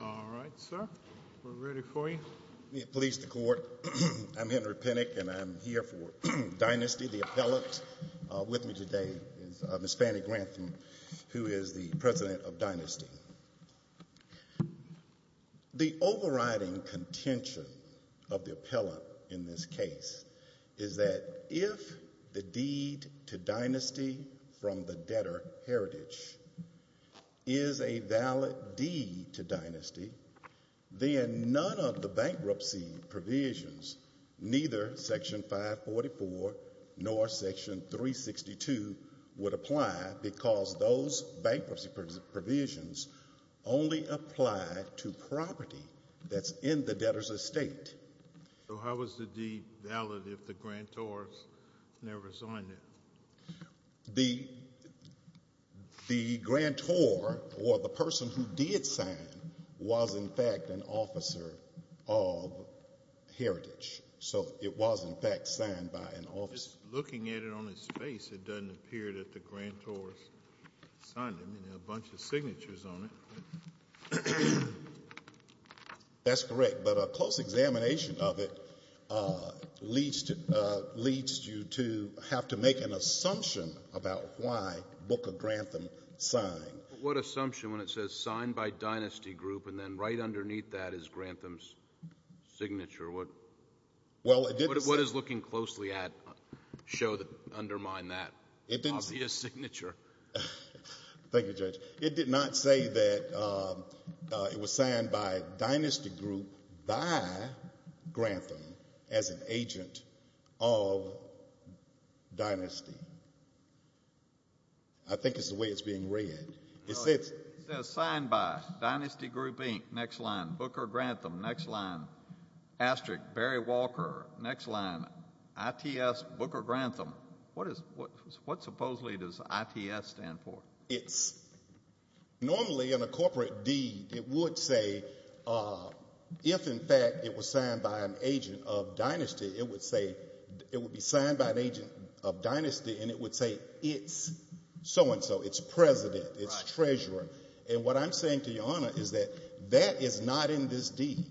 All right, sir. We're ready for you. Police, the court. I'm Henry Pinnock, and I'm here for Dynasty, the appellate, with me today is Ms. Fannie Grantham, who is the president of Dynasty. The overriding contention of the appellant in this case is that if the deed to Dynasty from the debtor, Heritage, is a valid deed to Dynasty, then none of the bankruptcy provisions, neither Section 544 nor Section 362, would apply because those bankruptcy provisions only apply to property that's in the debtor's estate. So how is the deed valid if the grantor has never signed it? The grantor, or the person who did sign, was in fact an officer of Heritage. So it was in fact signed by an officer. Looking at it on its face, it doesn't appear that the grantor signed it. There are a bunch of signatures on it. That's correct, but a close examination of it leads you to have to make an assumption about why Book of Grantham signed. What assumption when it says signed by Dynasty Group and then right underneath that is Grantham's signature? What is looking closely at show that undermine that obvious signature? Thank you, Judge. It did not say that it was signed by Dynasty Group by Grantham as an agent of Dynasty. I think it's the way it's being read. It says signed by Dynasty Group Inc., next line, Booker Walker, next line, I.T.S. Booker Grantham. What supposedly does I.T.S. stand for? Normally in a corporate deed, it would say if in fact it was signed by an agent of Dynasty, it would be signed by an agent of Dynasty and it would say it's so-and-so, it's president, it's treasurer. And what I'm saying to Your Honor is that that is not in this deed.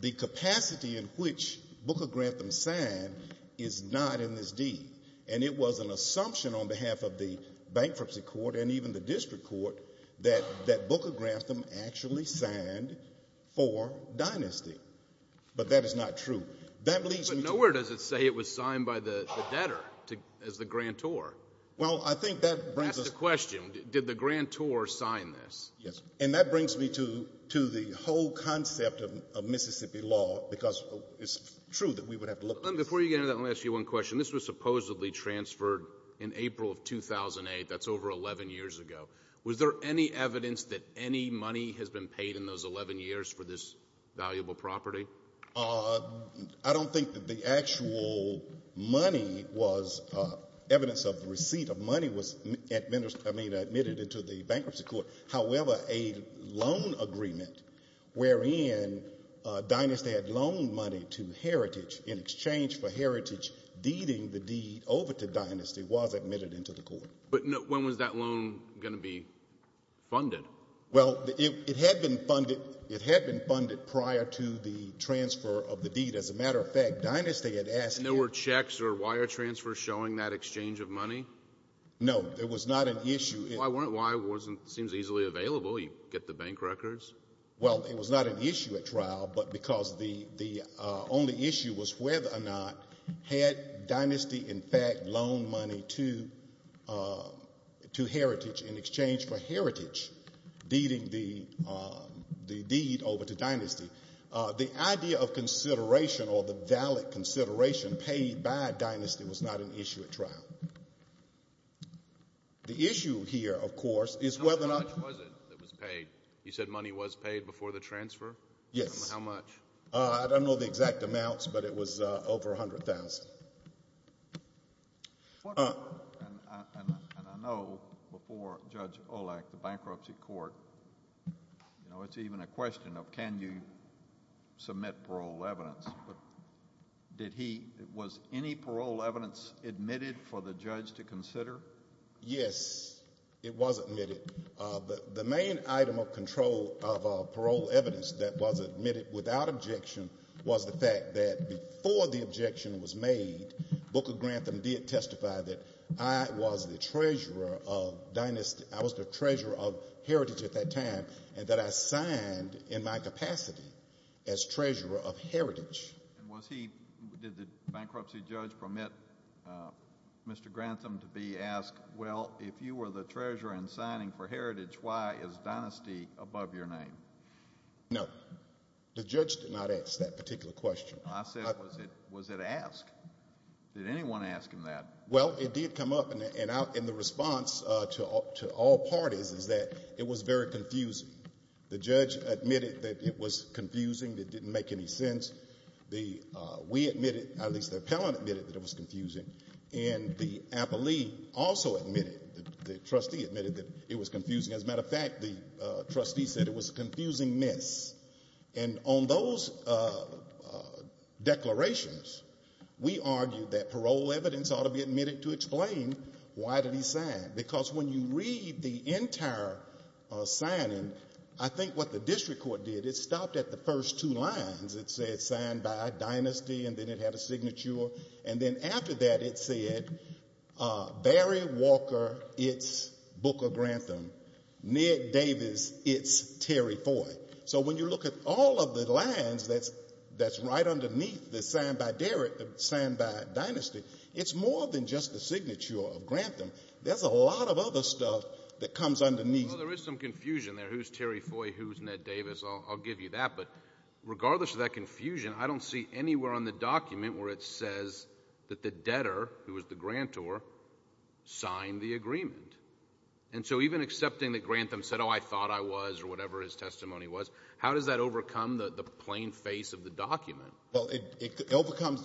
The capacity in which Booker Grantham signed is not in this deed. And it was an assumption on behalf of the bankruptcy court and even the district court that Booker Grantham actually signed for Dynasty. But that is not true. That leads me to... But nowhere does it say it was signed by the debtor as the grantor. Well, I think that brings us... Ask the question, did the grantor sign this? Yes. And that brings me to the whole concept of Mississippi law because it's true that we would have to look... Before you get into that, let me ask you one question. This was supposedly transferred in April of 2008. That's over 11 years ago. Was there any evidence that any money has been paid in those 11 years for this valuable property? I don't think that the actual money was... Evidence of receipt of money was admitted into the bankruptcy court. However, a loan agreement wherein Dynasty had loaned money to Heritage in exchange for Heritage deeding the deed over to Dynasty was admitted into the court. But when was that loan going to be funded? Well, it had been funded prior to the transfer of the deed. As a matter of fact, Dynasty had asked... And there were checks or wire transfers showing that exchange of money? No, there was not an issue. Why wasn't... It seems easily available. You get the bank records. Well, it was not an issue at trial, but because the only issue was whether or not had Dynasty, in fact, loaned money to Heritage in exchange for Heritage deeding the deed over to Dynasty. The idea of consideration or the valid consideration paid by Dynasty was not an issue at trial. The issue here, of course, is whether or not... How much was it that was paid? You said money was paid before the transfer? Yes. How much? I don't know the exact amounts, but it was over $100,000. And I know before Judge Olak, the bankruptcy court, you know, it's even a question of, can you submit parole evidence? But did he... Was any parole evidence admitted for the judge to consider? Yes, it was admitted. The main item of control of parole evidence that was admitted without objection was the fact that before the objection was made, Booker Grantham did testify that I was the treasurer of Heritage at that time and that I signed in my capacity as treasurer of Heritage. And was he... Did the bankruptcy judge permit Mr. Grantham to be asked, well, if you were the treasurer in signing for Heritage, why is Dynasty above your name? No. The judge did not ask that particular question. I said, was it asked? Did anyone ask him that? Well, it did come up, and the response to all parties is that it was very confusing. The judge admitted that it was confusing, that it didn't make any sense. We admitted, at least the appellant admitted that it was confusing, and the appellee also admitted, the trustee admitted that it was confusing. As a matter of fact, the trustee said it was confusing, and the appellant admitted to explain why did he sign. Because when you read the entire signing, I think what the district court did, it stopped at the first two lines. It said signed by Dynasty, and then it had a signature, and then after that it said, Barry Walker, it's Booker Grantham. Ned Davis, it's Terry Foy. So when you look at all of the lines that's right underneath signed by Dynasty, it's more than just the signature of Grantham. There's a lot of other stuff that comes underneath. Well, there is some confusion there. Who's Terry Foy? Who's Ned Davis? I'll give you that, but regardless of that confusion, I don't see anywhere on the document where it says that the debtor, who was the grantor, signed the agreement. And so even accepting that Grantham said, oh, I thought I was, or whatever his testimony was, how does that overcome the plain face of the document? Because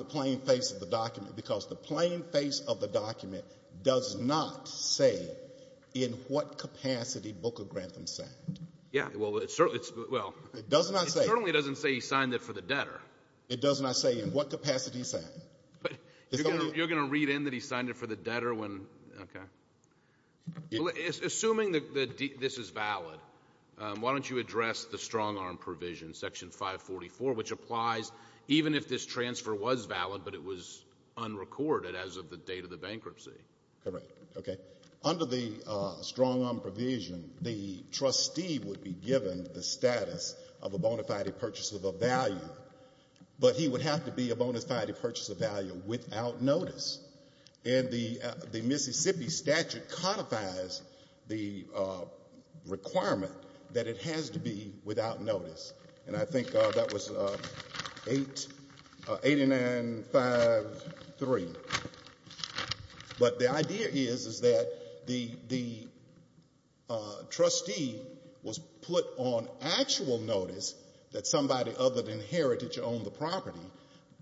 the plain face of the document does not say in what capacity Booker Grantham signed. Yeah, well, it certainly doesn't say he signed it for the debtor. It does not say in what capacity he signed. You're going to read in that he signed it for the debtor when, okay. Assuming that this is valid, why don't you address the but it was unrecorded as of the date of the bankruptcy. Correct. Okay. Under the strong arm provision, the trustee would be given the status of a bona fide purchase of a value, but he would have to be a bona fide purchase of value without notice. And the Mississippi statute codifies the requirement that it has to be without notice. And I think that was eight nine five three. But the idea is that the trustee was put on actual notice that somebody other than Heritage owned the property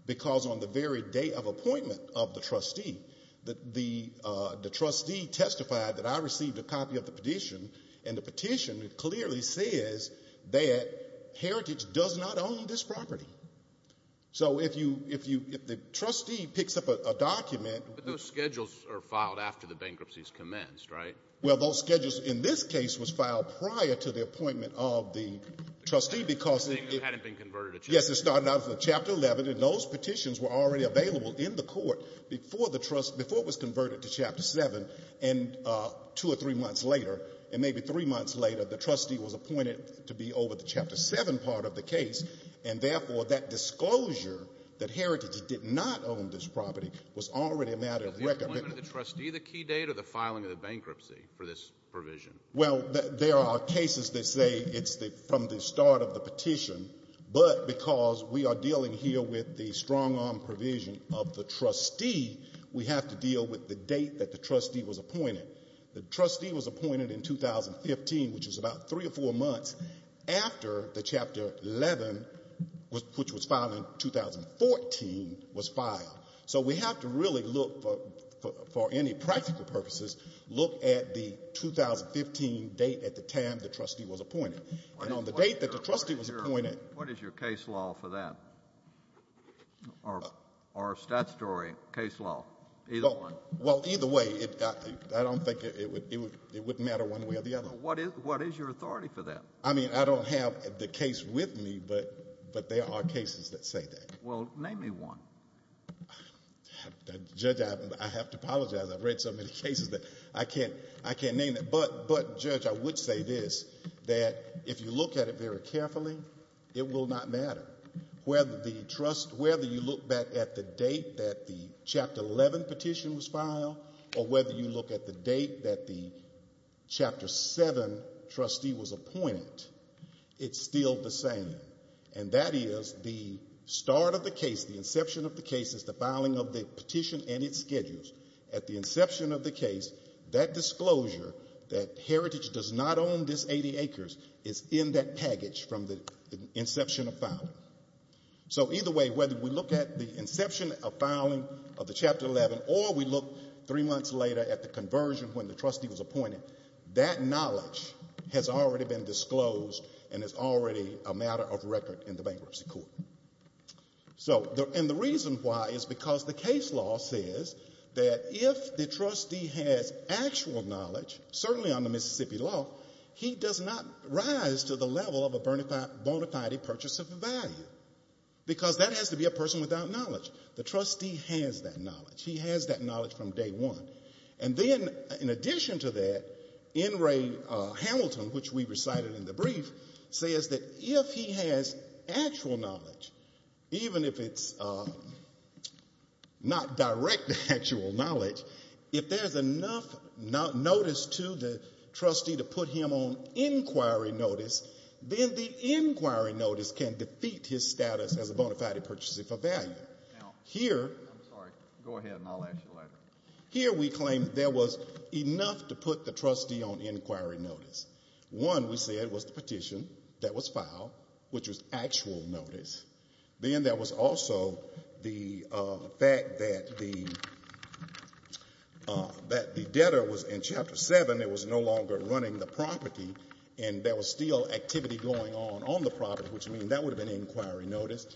because on the very day of appointment of the trustee, the trustee testified that I received a copy of the petition, and the petition clearly says that Heritage does not own this property. So if you if you if the trustee picks up a document, those schedules are filed after the bankruptcy is commenced, right? Well, those schedules in this case was filed prior to the appointment of the trustee because it hadn't been converted. Yes, it started out for Chapter 11, and those petitions were already available in the court before the trust before it was converted to Chapter seven. And two or three months later, and maybe three months later, the trustee was appointed to be over the Chapter seven part of the case. And therefore, that disclosure that Heritage did not own this property was already a matter of record. Was the appointment of the trustee the key date or the filing of the bankruptcy for this provision? Well, there are cases that say it's from the start of the petition, but because we are dealing here with the strong-arm provision of the trustee, we have to deal with the date that the trustee was appointed about three or four months after the Chapter 11, which was filed in 2014, was filed. So we have to really look, for any practical purposes, look at the 2015 date at the time the trustee was appointed. And on the date that the trustee was appointed... What is your case law for that? Or our statutory case law? Either one. Well, either way, I don't think it would matter one way or the other. What is your authority for that? I mean, I don't have the case with me, but there are cases that say that. Well, name me one. Judge, I have to apologize. I've read so many cases that I can't name them. But, Judge, I would say this, that if you look at it very carefully, it will not matter whether you look back at the date that the Chapter 11 petition was filed or whether you look at the date that the Chapter 7 trustee was appointed. It's still the same. And that is, the start of the case, the inception of the case is the filing of the petition and its schedules. At the inception of the case, that disclosure, that Heritage does not own this 80 acres, is in that package from the inception of filing. So, either way, whether we look at the inception of filing of the Chapter 11 or we look three months later at the conversion when the trustee was appointed, that knowledge has already been disclosed and is already a matter of record in the bankruptcy court. So, and the reason why is because the case law says that if the trustee has actual knowledge, certainly under Mississippi law, he does not rise to the level of a bona fide purchase of value. Because that has to be a person without knowledge. The trustee has that knowledge. He has that knowledge from day one. And then, in addition to that, N. Ray Hamilton, which we recited in the brief, says that if he has actual knowledge, even if it's not direct actual knowledge, if there's enough notice to the trustee to put him on inquiry notice, then the inquiry notice can defeat his status as a bona fide purchaser for value. Now, here, I'm sorry, go ahead and I'll ask you later. Here we claim there was enough to put the trustee on inquiry notice. One, we said, was the petition that was filed, which was actual notice. Then there was also the fact that the debtor was in Chapter 7, it was no longer running the property, and there was still activity going on on the property, which means that would have been inquiry notice.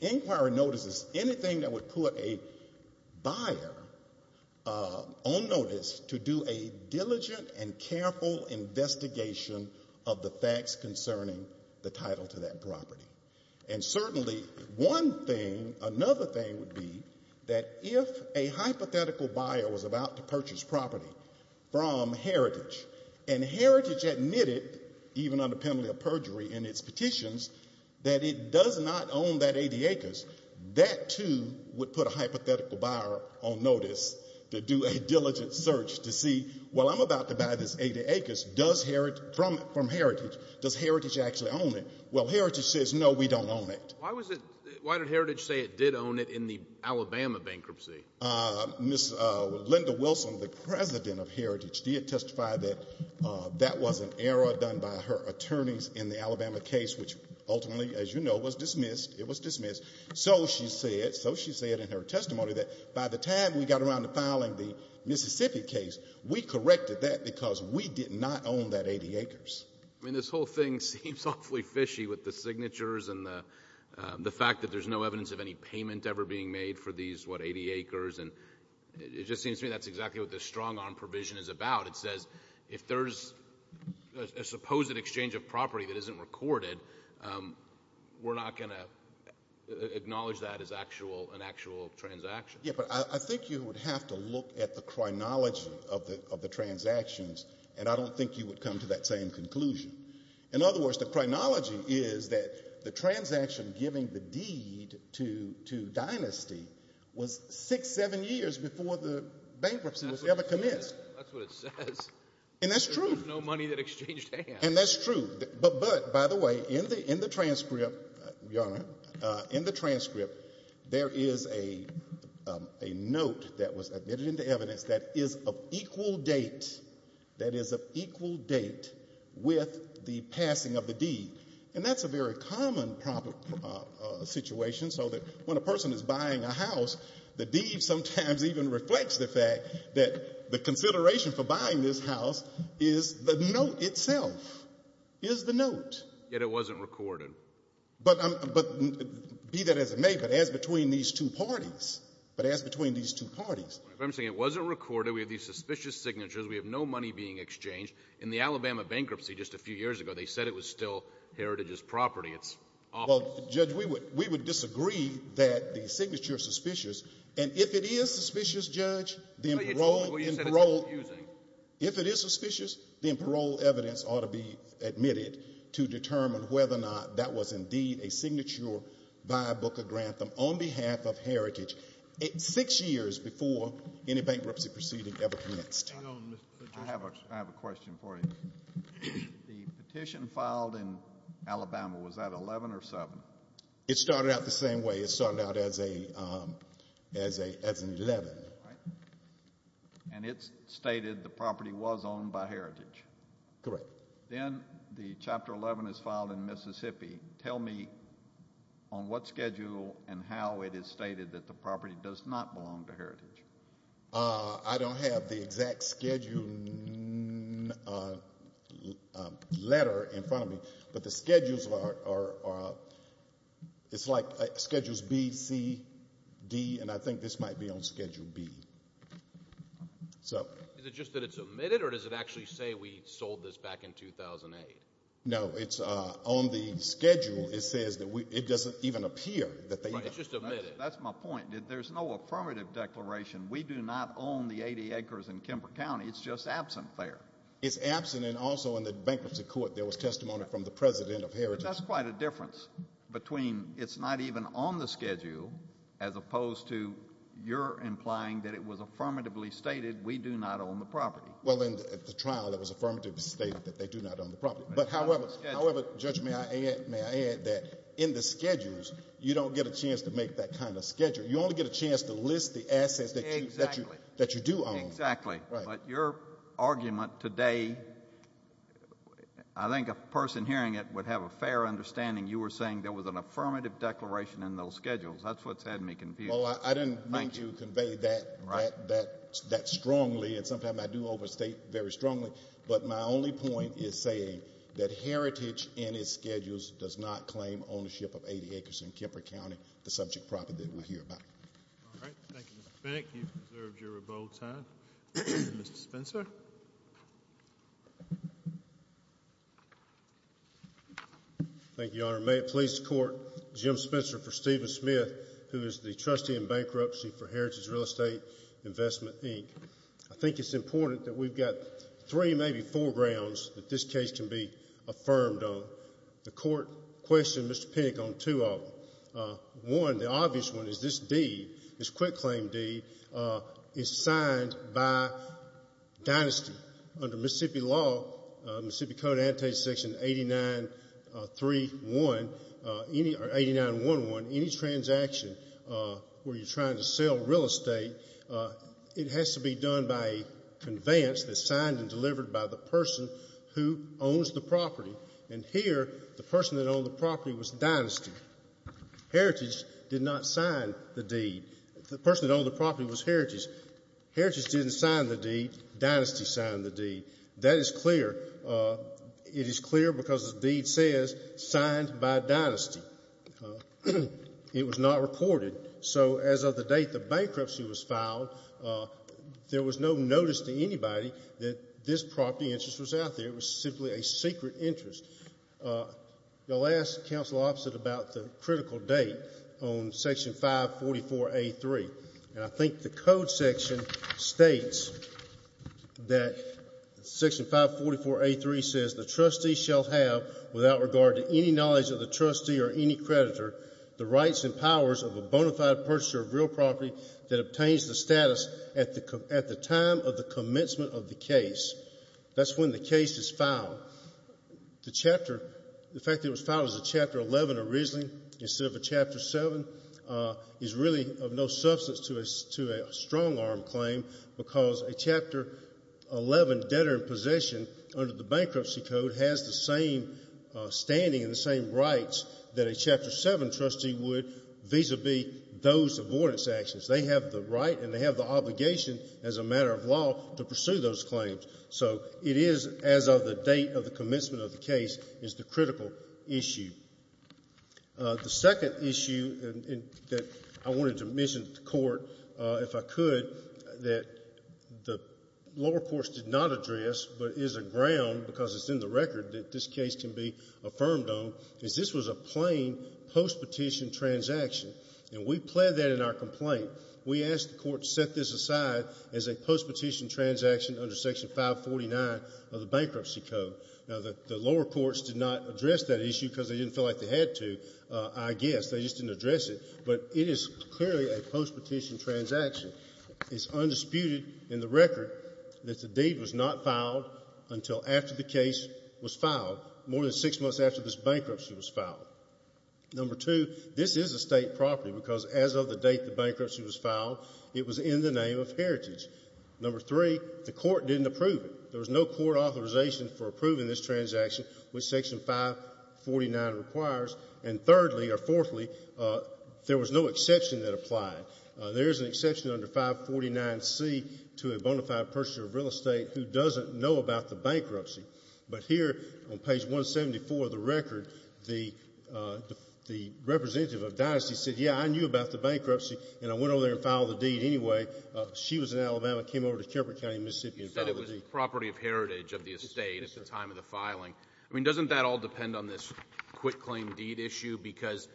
Inquiry notice is anything that would put a buyer on notice to do a diligent and careful investigation of the facts concerning the title to that property. And certainly, one thing, another thing would be that if a hypothetical buyer was about to purchase property from Heritage, and Heritage admitted, even under penalty of perjury in its petitions, that it does not own that 80 acres, that, too, would put a hypothetical buyer on notice to do a diligent search to see, well, I'm about to buy this 80 acres from Heritage. Does Heritage actually own it? Well, Heritage says, no, we don't own it. Why did Heritage say it did own it in the Alabama bankruptcy? Ms. Linda Wilson, the president of Heritage, did testify that that was an error done by her attorneys in the Alabama case, which ultimately, as you know, was dismissed. It was dismissed. So she said, so she said in her testimony that by the time we got around to filing the Mississippi case, we corrected that because we did not own that 80 acres. I mean, this whole thing seems awfully fishy with the signatures and the fact that there's no evidence of any payment ever being made for these, what, 80 acres. And it just seems to me that's exactly what this strong-arm provision is about. It says if there's a supposed exchange of property that isn't recorded, we're not going to acknowledge that as actual, an actual transaction. Yeah, but I think you would have to look at the chronology of the transactions, and I don't think you would come to that same conclusion. In other words, the chronology is that the transaction giving the deed to Dynasty was six, seven years before the bankruptcy was ever commenced. That's what it says. And that's true. There was no money that exchanged hands. And that's true. But by the way, in the transcript, Your Honor, in the transcript, there is a note that was admitted into evidence that is of equal date, that is of equal date with the passing of the deed. And that's a very common situation so that when a person is buying a house, the deed sometimes even reflects the fact that the consideration for buying this house is the note itself, is the note. Yet it wasn't recorded. But be that as it may, but as between these two parties, but as between these two parties. But I'm saying it wasn't recorded. We have these suspicious signatures. We have no money being exchanged. In the Alabama bankruptcy just a few years ago, they said it was still Heritage's property. It's off. Well, Judge, we would disagree that the signature is suspicious. And if it is suspicious, Judge, then parole and parole. If it is suspicious, then parole evidence ought to be admitted to determine whether or not that was indeed a signature by Booker Grantham on behalf of Heritage six years before any bankruptcy proceeding ever commenced. I have a question for you. The petition filed in Alabama, was that 11 or 7? It started out the same way. It started out as an 11. And it stated the property was owned by Heritage. Correct. Then the chapter 11 is filed in Mississippi. Tell me on what schedule and how it is stated that the property does not belong to Heritage. I don't have the exact schedule letter in front of me, but the schedules are, it's like schedules B, C, D, and I think this might be on schedule B. So. Just that it's omitted or does it actually say we sold this back in 2008? No, it's on the schedule. It says that it doesn't even appear that they. It's just omitted. That's my point. There's no affirmative declaration. We do not own the 80 acres in Kemper County. It's just absent there. It's absent. And also in the bankruptcy court, there was testimony from the president of Heritage. That's quite a difference between it's not even on the schedule as opposed to you're implying that it was affirmatively stated we do not own the property. Well, in the trial, that was affirmatively stated that they do not own the property. But however, Judge, may I add that in the schedules, you don't get a chance to make that kind of schedule. You only get a chance to list the assets that you do own. Exactly. But your argument today, I think a person hearing it would have a fair understanding you were saying there was an affirmative declaration in those schedules. That's what's had me confused. I didn't mean to convey that strongly. And sometimes I do overstate very strongly. But my only point is saying that Heritage in its schedules does not claim ownership of 80 acres in Kemper County, the subject property that we hear about. All right. Thank you, Mr. Finick. You've observed your rebuttal time. Mr. Spencer. Thank you, Your Honor. May it please the court, Jim Spencer for Stephen Smith, who is the trustee in bankruptcy for Heritage Real Estate Investment, Inc. I think it's important that we've got three, maybe four, grounds that this case can be affirmed on. The court questioned Mr. Finick on two of them. One, the obvious one, is this deed, this quitclaim deed, is signed by dynasty under Mississippi law, Mississippi Code, section 89.3.1, or 89.1.1, any transaction where you're trying to sell real estate, it has to be done by a conveyance that's signed and delivered by the person who owns the property. And here, the person that owned the property was dynasty. Heritage did not sign the deed. The person that owned the property was Heritage. Heritage didn't sign the deed. That is clear. It is clear because the deed says, signed by dynasty. It was not reported. So, as of the date the bankruptcy was filed, there was no notice to anybody that this property interest was out there. It was simply a secret interest. You'll ask counsel opposite about the section 544.A.3 says, the trustee shall have, without regard to any knowledge of the trustee or any creditor, the rights and powers of a bona fide purchaser of real property that obtains the status at the time of the commencement of the case. That's when the case is filed. The chapter, the fact that it was filed as a chapter 11 originally, instead of a chapter 7, is really of no substance to a strong arm claim because a chapter 11 debtor in possession under the bankruptcy code has the same standing and the same rights that a chapter 7 trustee would vis-a-vis those avoidance actions. They have the right and they have the obligation as a matter of law to pursue those claims. So, it is as of the date of the commencement of the case is the critical issue. The second issue that I wanted to mention to the court, if I could, that the lower courts did not address but is a ground because it's in the record that this case can be affirmed on, is this was a plain post-petition transaction. And we plead that in our complaint. We asked the court to set this aside as a post-petition transaction under section 549 of the bankruptcy code. Now, the lower courts did not address that issue because they didn't feel like they had to, I guess. They just didn't address it. But it is clearly a post-petition transaction. It's undisputed in the record that the deed was not filed until after the case was filed, more than six months after this bankruptcy was filed. Number two, this is a state property because as of the date the bankruptcy was filed, it was in the name of heritage. Number three, the court didn't approve it. There was no court authorization for approving this transaction, which section 549 requires. And thirdly, or fourthly, there was no exception that applied. There is an exception under 549C to a bona fide purchaser of real estate who doesn't know about the bankruptcy. But here on page 174 of the record, the representative of Dynasty said, yeah, I knew about the bankruptcy and I went over there and filed the deed anyway. She was in Mississippi and filed the deed. You said it was property of heritage of the estate at the time of the filing. I mean, doesn't that all depend on this quitclaim deed issue? Because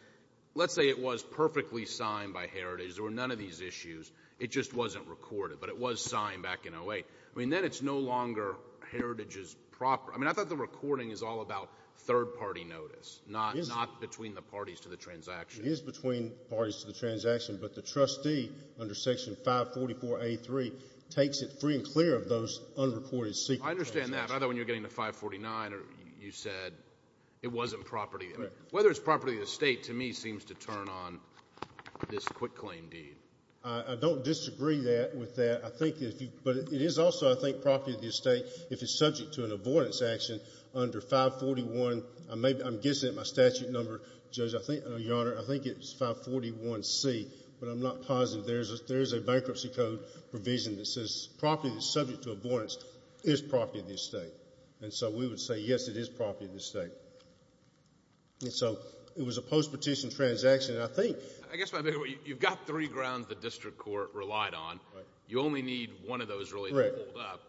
let's say it was perfectly signed by heritage. There were none of these issues. It just wasn't recorded. But it was signed back in 08. I mean, then it's no longer heritage's property. I mean, I thought the recording is all about third-party notice, not between the parties to the transaction. It is between parties to the transaction. But the trustee under section 544A3 takes it free and clear of those unreported secret transactions. I understand that. I thought when you were getting to 549, you said it wasn't property. Whether it's property of the estate, to me, seems to turn on this quitclaim deed. I don't disagree with that. But it is also, I think, property of the estate if it's subject to an avoidance action under 541. I'm guessing at my statute number, Judge, I think, Your Honor, I think it's 541C. But I'm not positive. There's a bankruptcy code provision that says property that's subject to avoidance is property of the estate. And so we would say, yes, it is property of the estate. And so it was a post-petition transaction. And I think I guess you've got three grounds the district court relied on. You only need one of those really to hold up.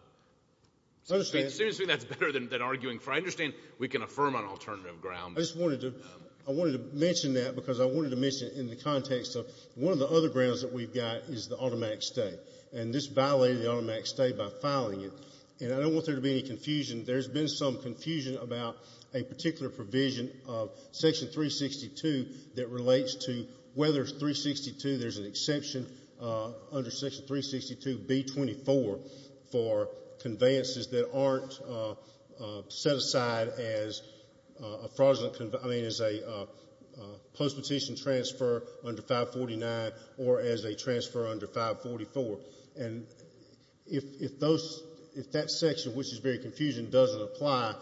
Seriously, that's better than arguing for. I understand we can affirm on alternative grounds. I just wanted to mention that because I wanted to mention it in the context of one of the other grounds that we've got is the automatic stay. And this violated the automatic stay by filing it. And I don't want there to be any confusion. There's been some confusion about a particular provision of Section 362 that relates to whether it's 362, there's an exception under Section 362B24 for conveyances that aren't set aside as a post-petition transfer under 549 or as a transfer under 544. And if that section, which is very confusing, doesn't apply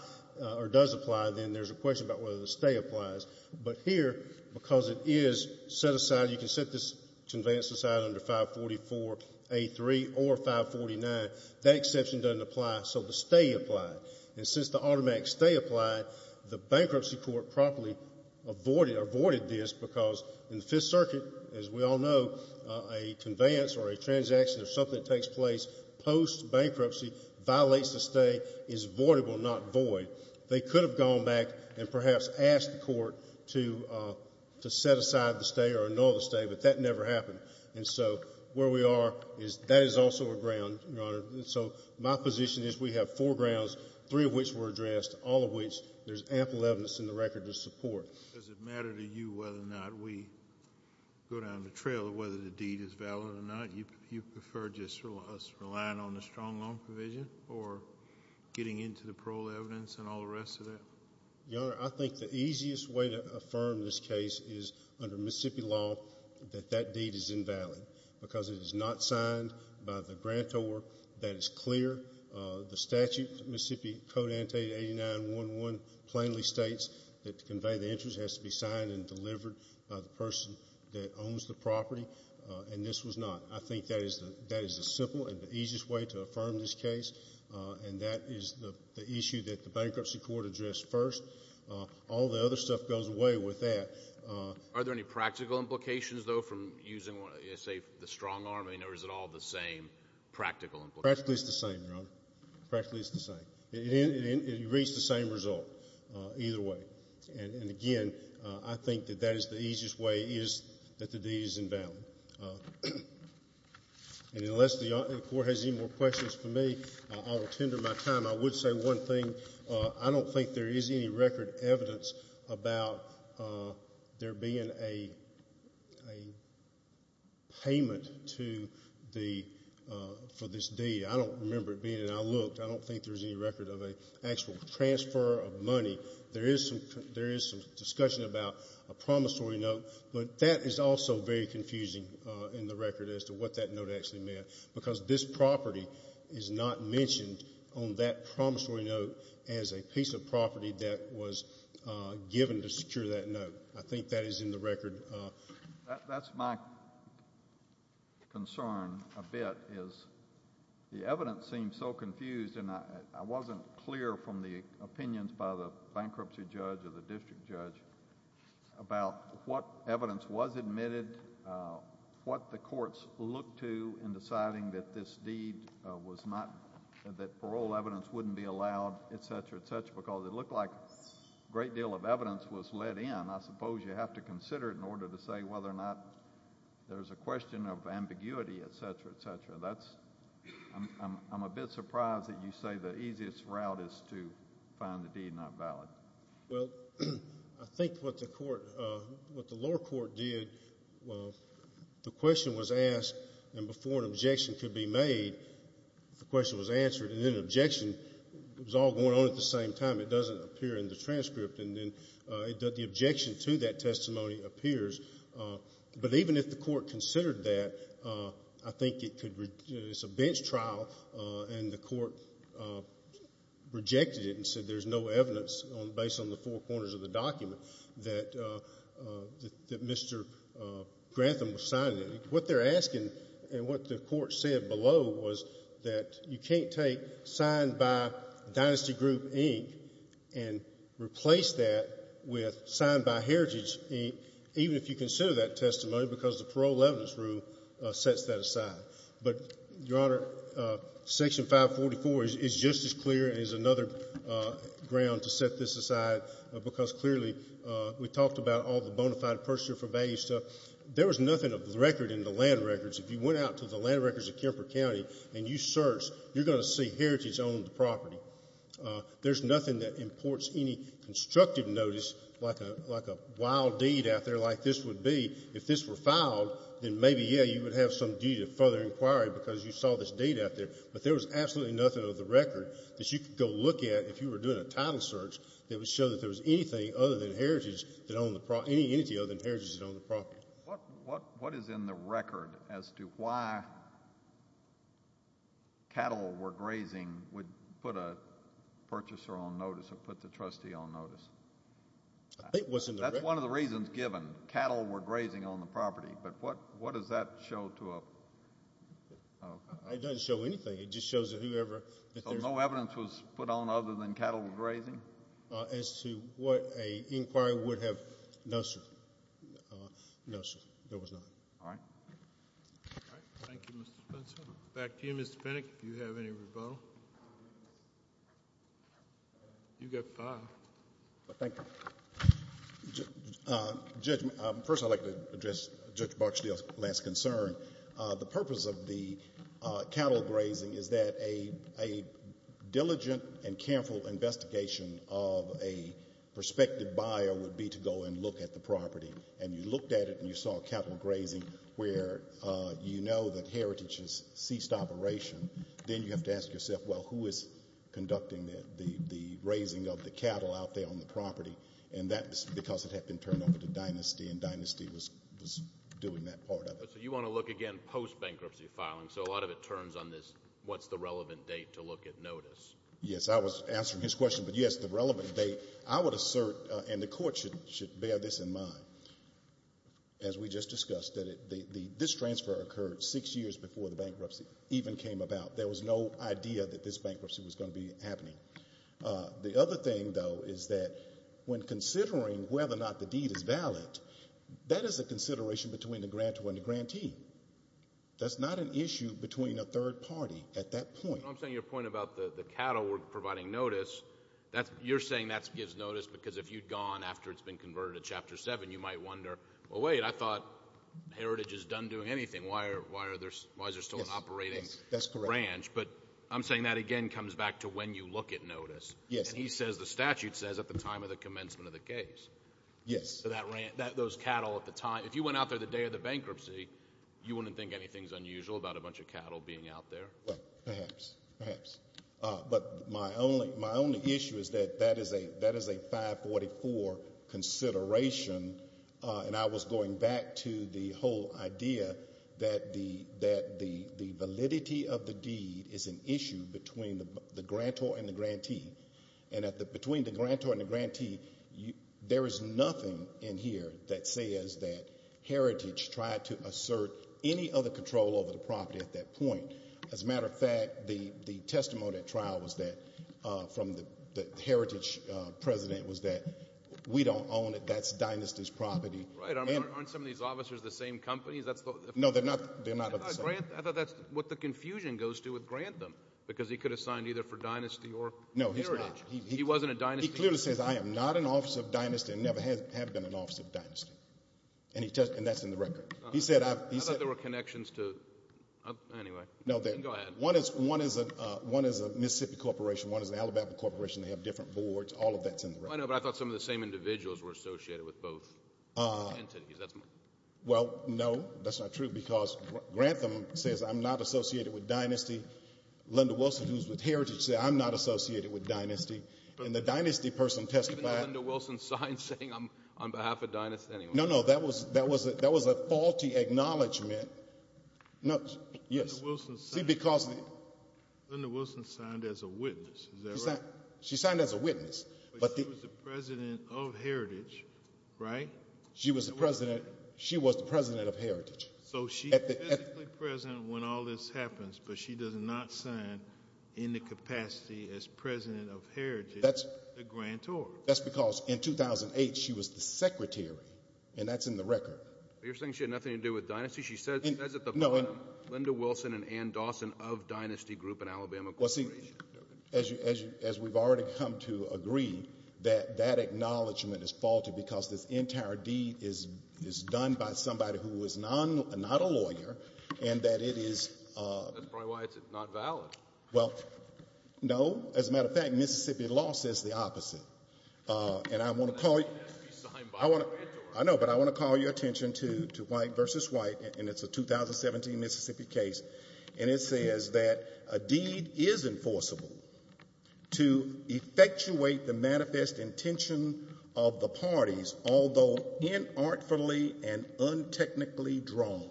or does apply, then there's a question about whether the stay applies. But here, because it is set aside, you can set this conveyance aside under 544A3 or 549, that exception doesn't apply. So the stay applied. And since the automatic stay applied, the bankruptcy court properly avoided this because in the Fifth Circuit, as we all know, a conveyance or a transaction or something takes place post-bankruptcy, violates the stay, is voidable, not void. They could have gone back and perhaps asked the court to set aside the stay or annul the stay, but that never happened. And so where we are is that is also a ground, Your Honor. So my position is we have four grounds, three of which were addressed, all of which there's ample evidence in the record to support. Does it matter to you whether or not we go down the trail of whether the deed is valid or not? You prefer just us relying on the strong loan provision or getting into the parole evidence and all the rest of that? Your Honor, I think the easiest way to affirm this case is under Mississippi law that that deed is invalid because it is not signed by the grantor. That is clear. The statute, Mississippi Code Ante 89-1-1 plainly states that to convey the interest has to be signed and delivered by the person that owns the property, and this was not. I think that is the address first. All the other stuff goes away with that. Are there any practical implications, though, from using, say, the strong arm? I mean, or is it all the same practical? Practically, it's the same, Your Honor. Practically, it's the same. It reads the same result either way. And again, I think that that is the easiest way is that the deed is invalid. And unless the court has any more questions for me, I will tender my time. I would say one thing I don't think there is any record evidence about there being a payment for this deed. I don't remember it being, and I looked, I don't think there's any record of an actual transfer of money. There is some discussion about a promissory note, but that is also very confusing in the record as to what that note actually meant because this property is not mentioned on that promissory note as a piece of property that was given to secure that note. I think that is in the record. That's my concern a bit is the evidence seems so confused, and I wasn't clear from the opinions by the bankruptcy judge or the district judge about what evidence was admitted, what the courts looked to in deciding that this deed was not, that parole evidence wouldn't be allowed, et cetera, et cetera, because it looked like a great deal of evidence was let in. I suppose you have to consider it in order to say whether or not there's a question of ambiguity, et cetera, et cetera. That's, I'm a bit surprised that you say the easiest route is to find the deed not before an objection could be made, the question was answered, and then an objection was all going on at the same time. It doesn't appear in the transcript, and then the objection to that testimony appears, but even if the court considered that, I think it could, it's a bench trial, and the court rejected it and said there's no evidence based on the four corners of the document that Mr. Grantham was signing. What they're asking, and what the court said below was that you can't take signed by Dynasty Group, Inc., and replace that with signed by Heritage, Inc., even if you consider that testimony because the parole evidence rule sets that aside, but, Your Honor, Section 544 is just as clear as another ground to set this aside because clearly we talked about all the bona fide purchaser for value stuff. There was nothing of the record in the land records. If you went out to the land records of Kemper County and you searched, you're going to see Heritage owned the property. There's nothing that imports any constructive notice like a wild deed out there like this would be. If this were filed, then maybe, yeah, you would have some deed of further inquiry because you saw this deed out there, but there was absolutely nothing of the record that you could go look at if you were doing a title search that would show that there was anything other than Heritage that owned the property, any entity other than Heritage that owned the property. What is in the record as to why cattle were grazing would put a purchaser on notice or put the trustee on notice? That's one of the reasons given, cattle were grazing on the property, but what does that show to a... It doesn't show anything. It just shows that whoever... No evidence was put on other than cattle were grazing? As to what an inquiry would have... No, sir. No, sir. There was none. All right. Thank you, Mr. Spencer. Back to you, Mr. Fennick, if you have any rebuttal. You've got five. Thank you. First, I'd like to address Judge Barksdale's last concern. The purpose of the diligent and careful investigation of a prospective buyer would be to go and look at the property, and you looked at it and you saw cattle grazing where you know that Heritage has ceased operation. Then you have to ask yourself, well, who is conducting the raising of the cattle out there on the property? And that's because it had been turned over to Dynasty, and Dynasty was doing that part of it. So you want to look again post-bankruptcy filing, so a lot of it turns on this, the relevant date to look at notice. Yes. I was answering his question, but yes, the relevant date. I would assert, and the court should bear this in mind, as we just discussed, that this transfer occurred six years before the bankruptcy even came about. There was no idea that this bankruptcy was going to be happening. The other thing, though, is that when considering whether or not the deed is valid, that is a consideration between the grantor and the grantee. That's not an issue between a third party at that point. I'm saying your point about the cattle were providing notice, you're saying that gives notice because if you'd gone after it's been converted to Chapter 7, you might wonder, well, wait, I thought Heritage is done doing anything. Why is there still an operating ranch? But I'm saying that again comes back to when you look at notice. Yes. And he says, the statute says, at the time of the commencement of the case. Yes. Those cattle at the time, if you went out there the day of the bankruptcy, you wouldn't think anything's unusual about a bunch of cattle being out there. Well, perhaps. Perhaps. But my only issue is that that is a 544 consideration, and I was going back to the whole idea that the validity of the deed is an issue between the grantor and the grantee. And between the grantor and the grantee, there is nothing in here that says that Heritage tried to assert any other control over the property at that point. As a matter of fact, the testimony at trial was that, from the Heritage president, was that we don't own it, that's Dynasty's property. Right. Aren't some of these officers the same companies? No, they're not. They're not the same. I thought that's what the confusion goes to with Grantham, because he could have signed either for Dynasty or Heritage. No, he's not. He wasn't a Dynasty employee. He clearly says, I am not an officer of Dynasty and never have been an officer of Dynasty. And that's in the record. I thought there were connections to... Anyway, go ahead. One is a Mississippi corporation, one is an Alabama corporation. They have different boards. All of that's in the record. I know, but I thought some of the same individuals were associated with both entities. Well, no, that's not true, because Grantham says, I'm not associated with Dynasty. Linda Wilson, who's with Heritage, said, I'm not associated with Dynasty. And the Dynasty person testified... Even Linda Wilson signed saying, I'm on behalf of Dynasty. No, no, that was a faulty acknowledgment. No, yes, see, because... Linda Wilson signed as a witness. Is that right? She signed as a witness. But she was the president of Heritage, right? She was the president. She was the president of Heritage. So she's physically present when all this happens, but she does not sign in the capacity as president of Heritage, the grantor. That's because in 2008, she was the secretary, and that's in the record. You're saying she had nothing to do with Dynasty? She says at the bottom, Linda Wilson and Ann Dawson of Dynasty Group, an Alabama corporation. Well, see, as we've already come to agree, that that acknowledgement is faulty because this entire deed is done by somebody who is not a lawyer, and that it is... That's probably why it's not valid. Well, no, as a matter of fact, Mississippi law says the opposite. And I want to call you... It has to be signed by the grantor. I know, but I want to call your attention to White v. White, and it's a 2017 Mississippi case, and it says that a deed is enforceable to effectuate the manifest intention of the parties, although inartfully and untechnically drawn.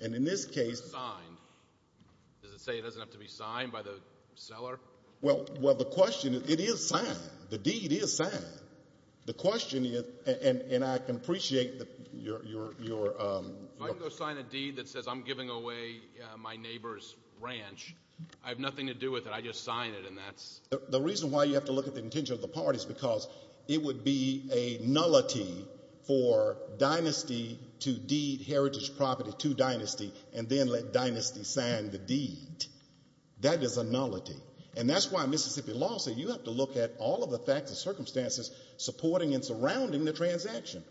And in this case... Signed. Does it say it doesn't have to be signed by the seller? Well, the question is, it is signed. The deed is signed. The question is, and I can appreciate your... If I can go sign a deed that says I'm giving away my neighbor's ranch, I have nothing to do with it. I just sign it, and that's... The reason why you have to look at the intention of the parties is because it would be a nullity for dynasty to deed heritage property to dynasty and then let dynasty sign the deed. That is a nullity. And that's why Mississippi law says you have to look at all of the facts and circumstances supporting and surrounding the transaction.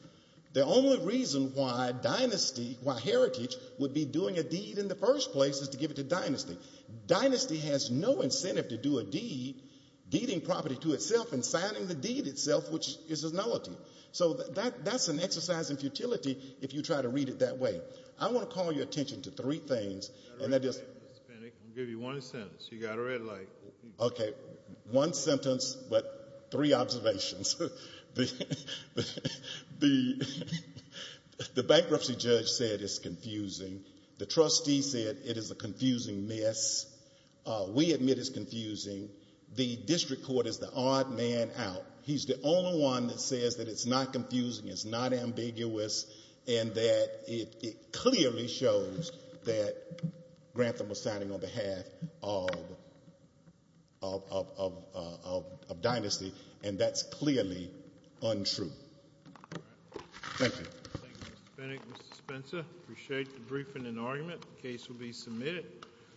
The only reason why dynasty, why heritage, would be doing a deed in the first place is to give it to dynasty. Dynasty has no incentive to do a deed, deeding property to itself and signing the deed itself, which is a nullity. So that's an exercise in futility if you try to read it that way. I want to call your attention to three things, and that is... I'll give you one sentence. You got a red light. Okay. One sentence, but three observations. The bankruptcy judge said it's confusing. The trustee said it is a confusing mess. We admit it's confusing. The district court is the odd man out. He's the only one that says that it's not confusing, it's not ambiguous, and that it clearly shows that Grantham was signing on behalf of dynasty, and that's clearly untrue. Thank you. Thank you, Mr. Bennett and Mr. Spencer. I appreciate the briefing and argument. The case will be submitted.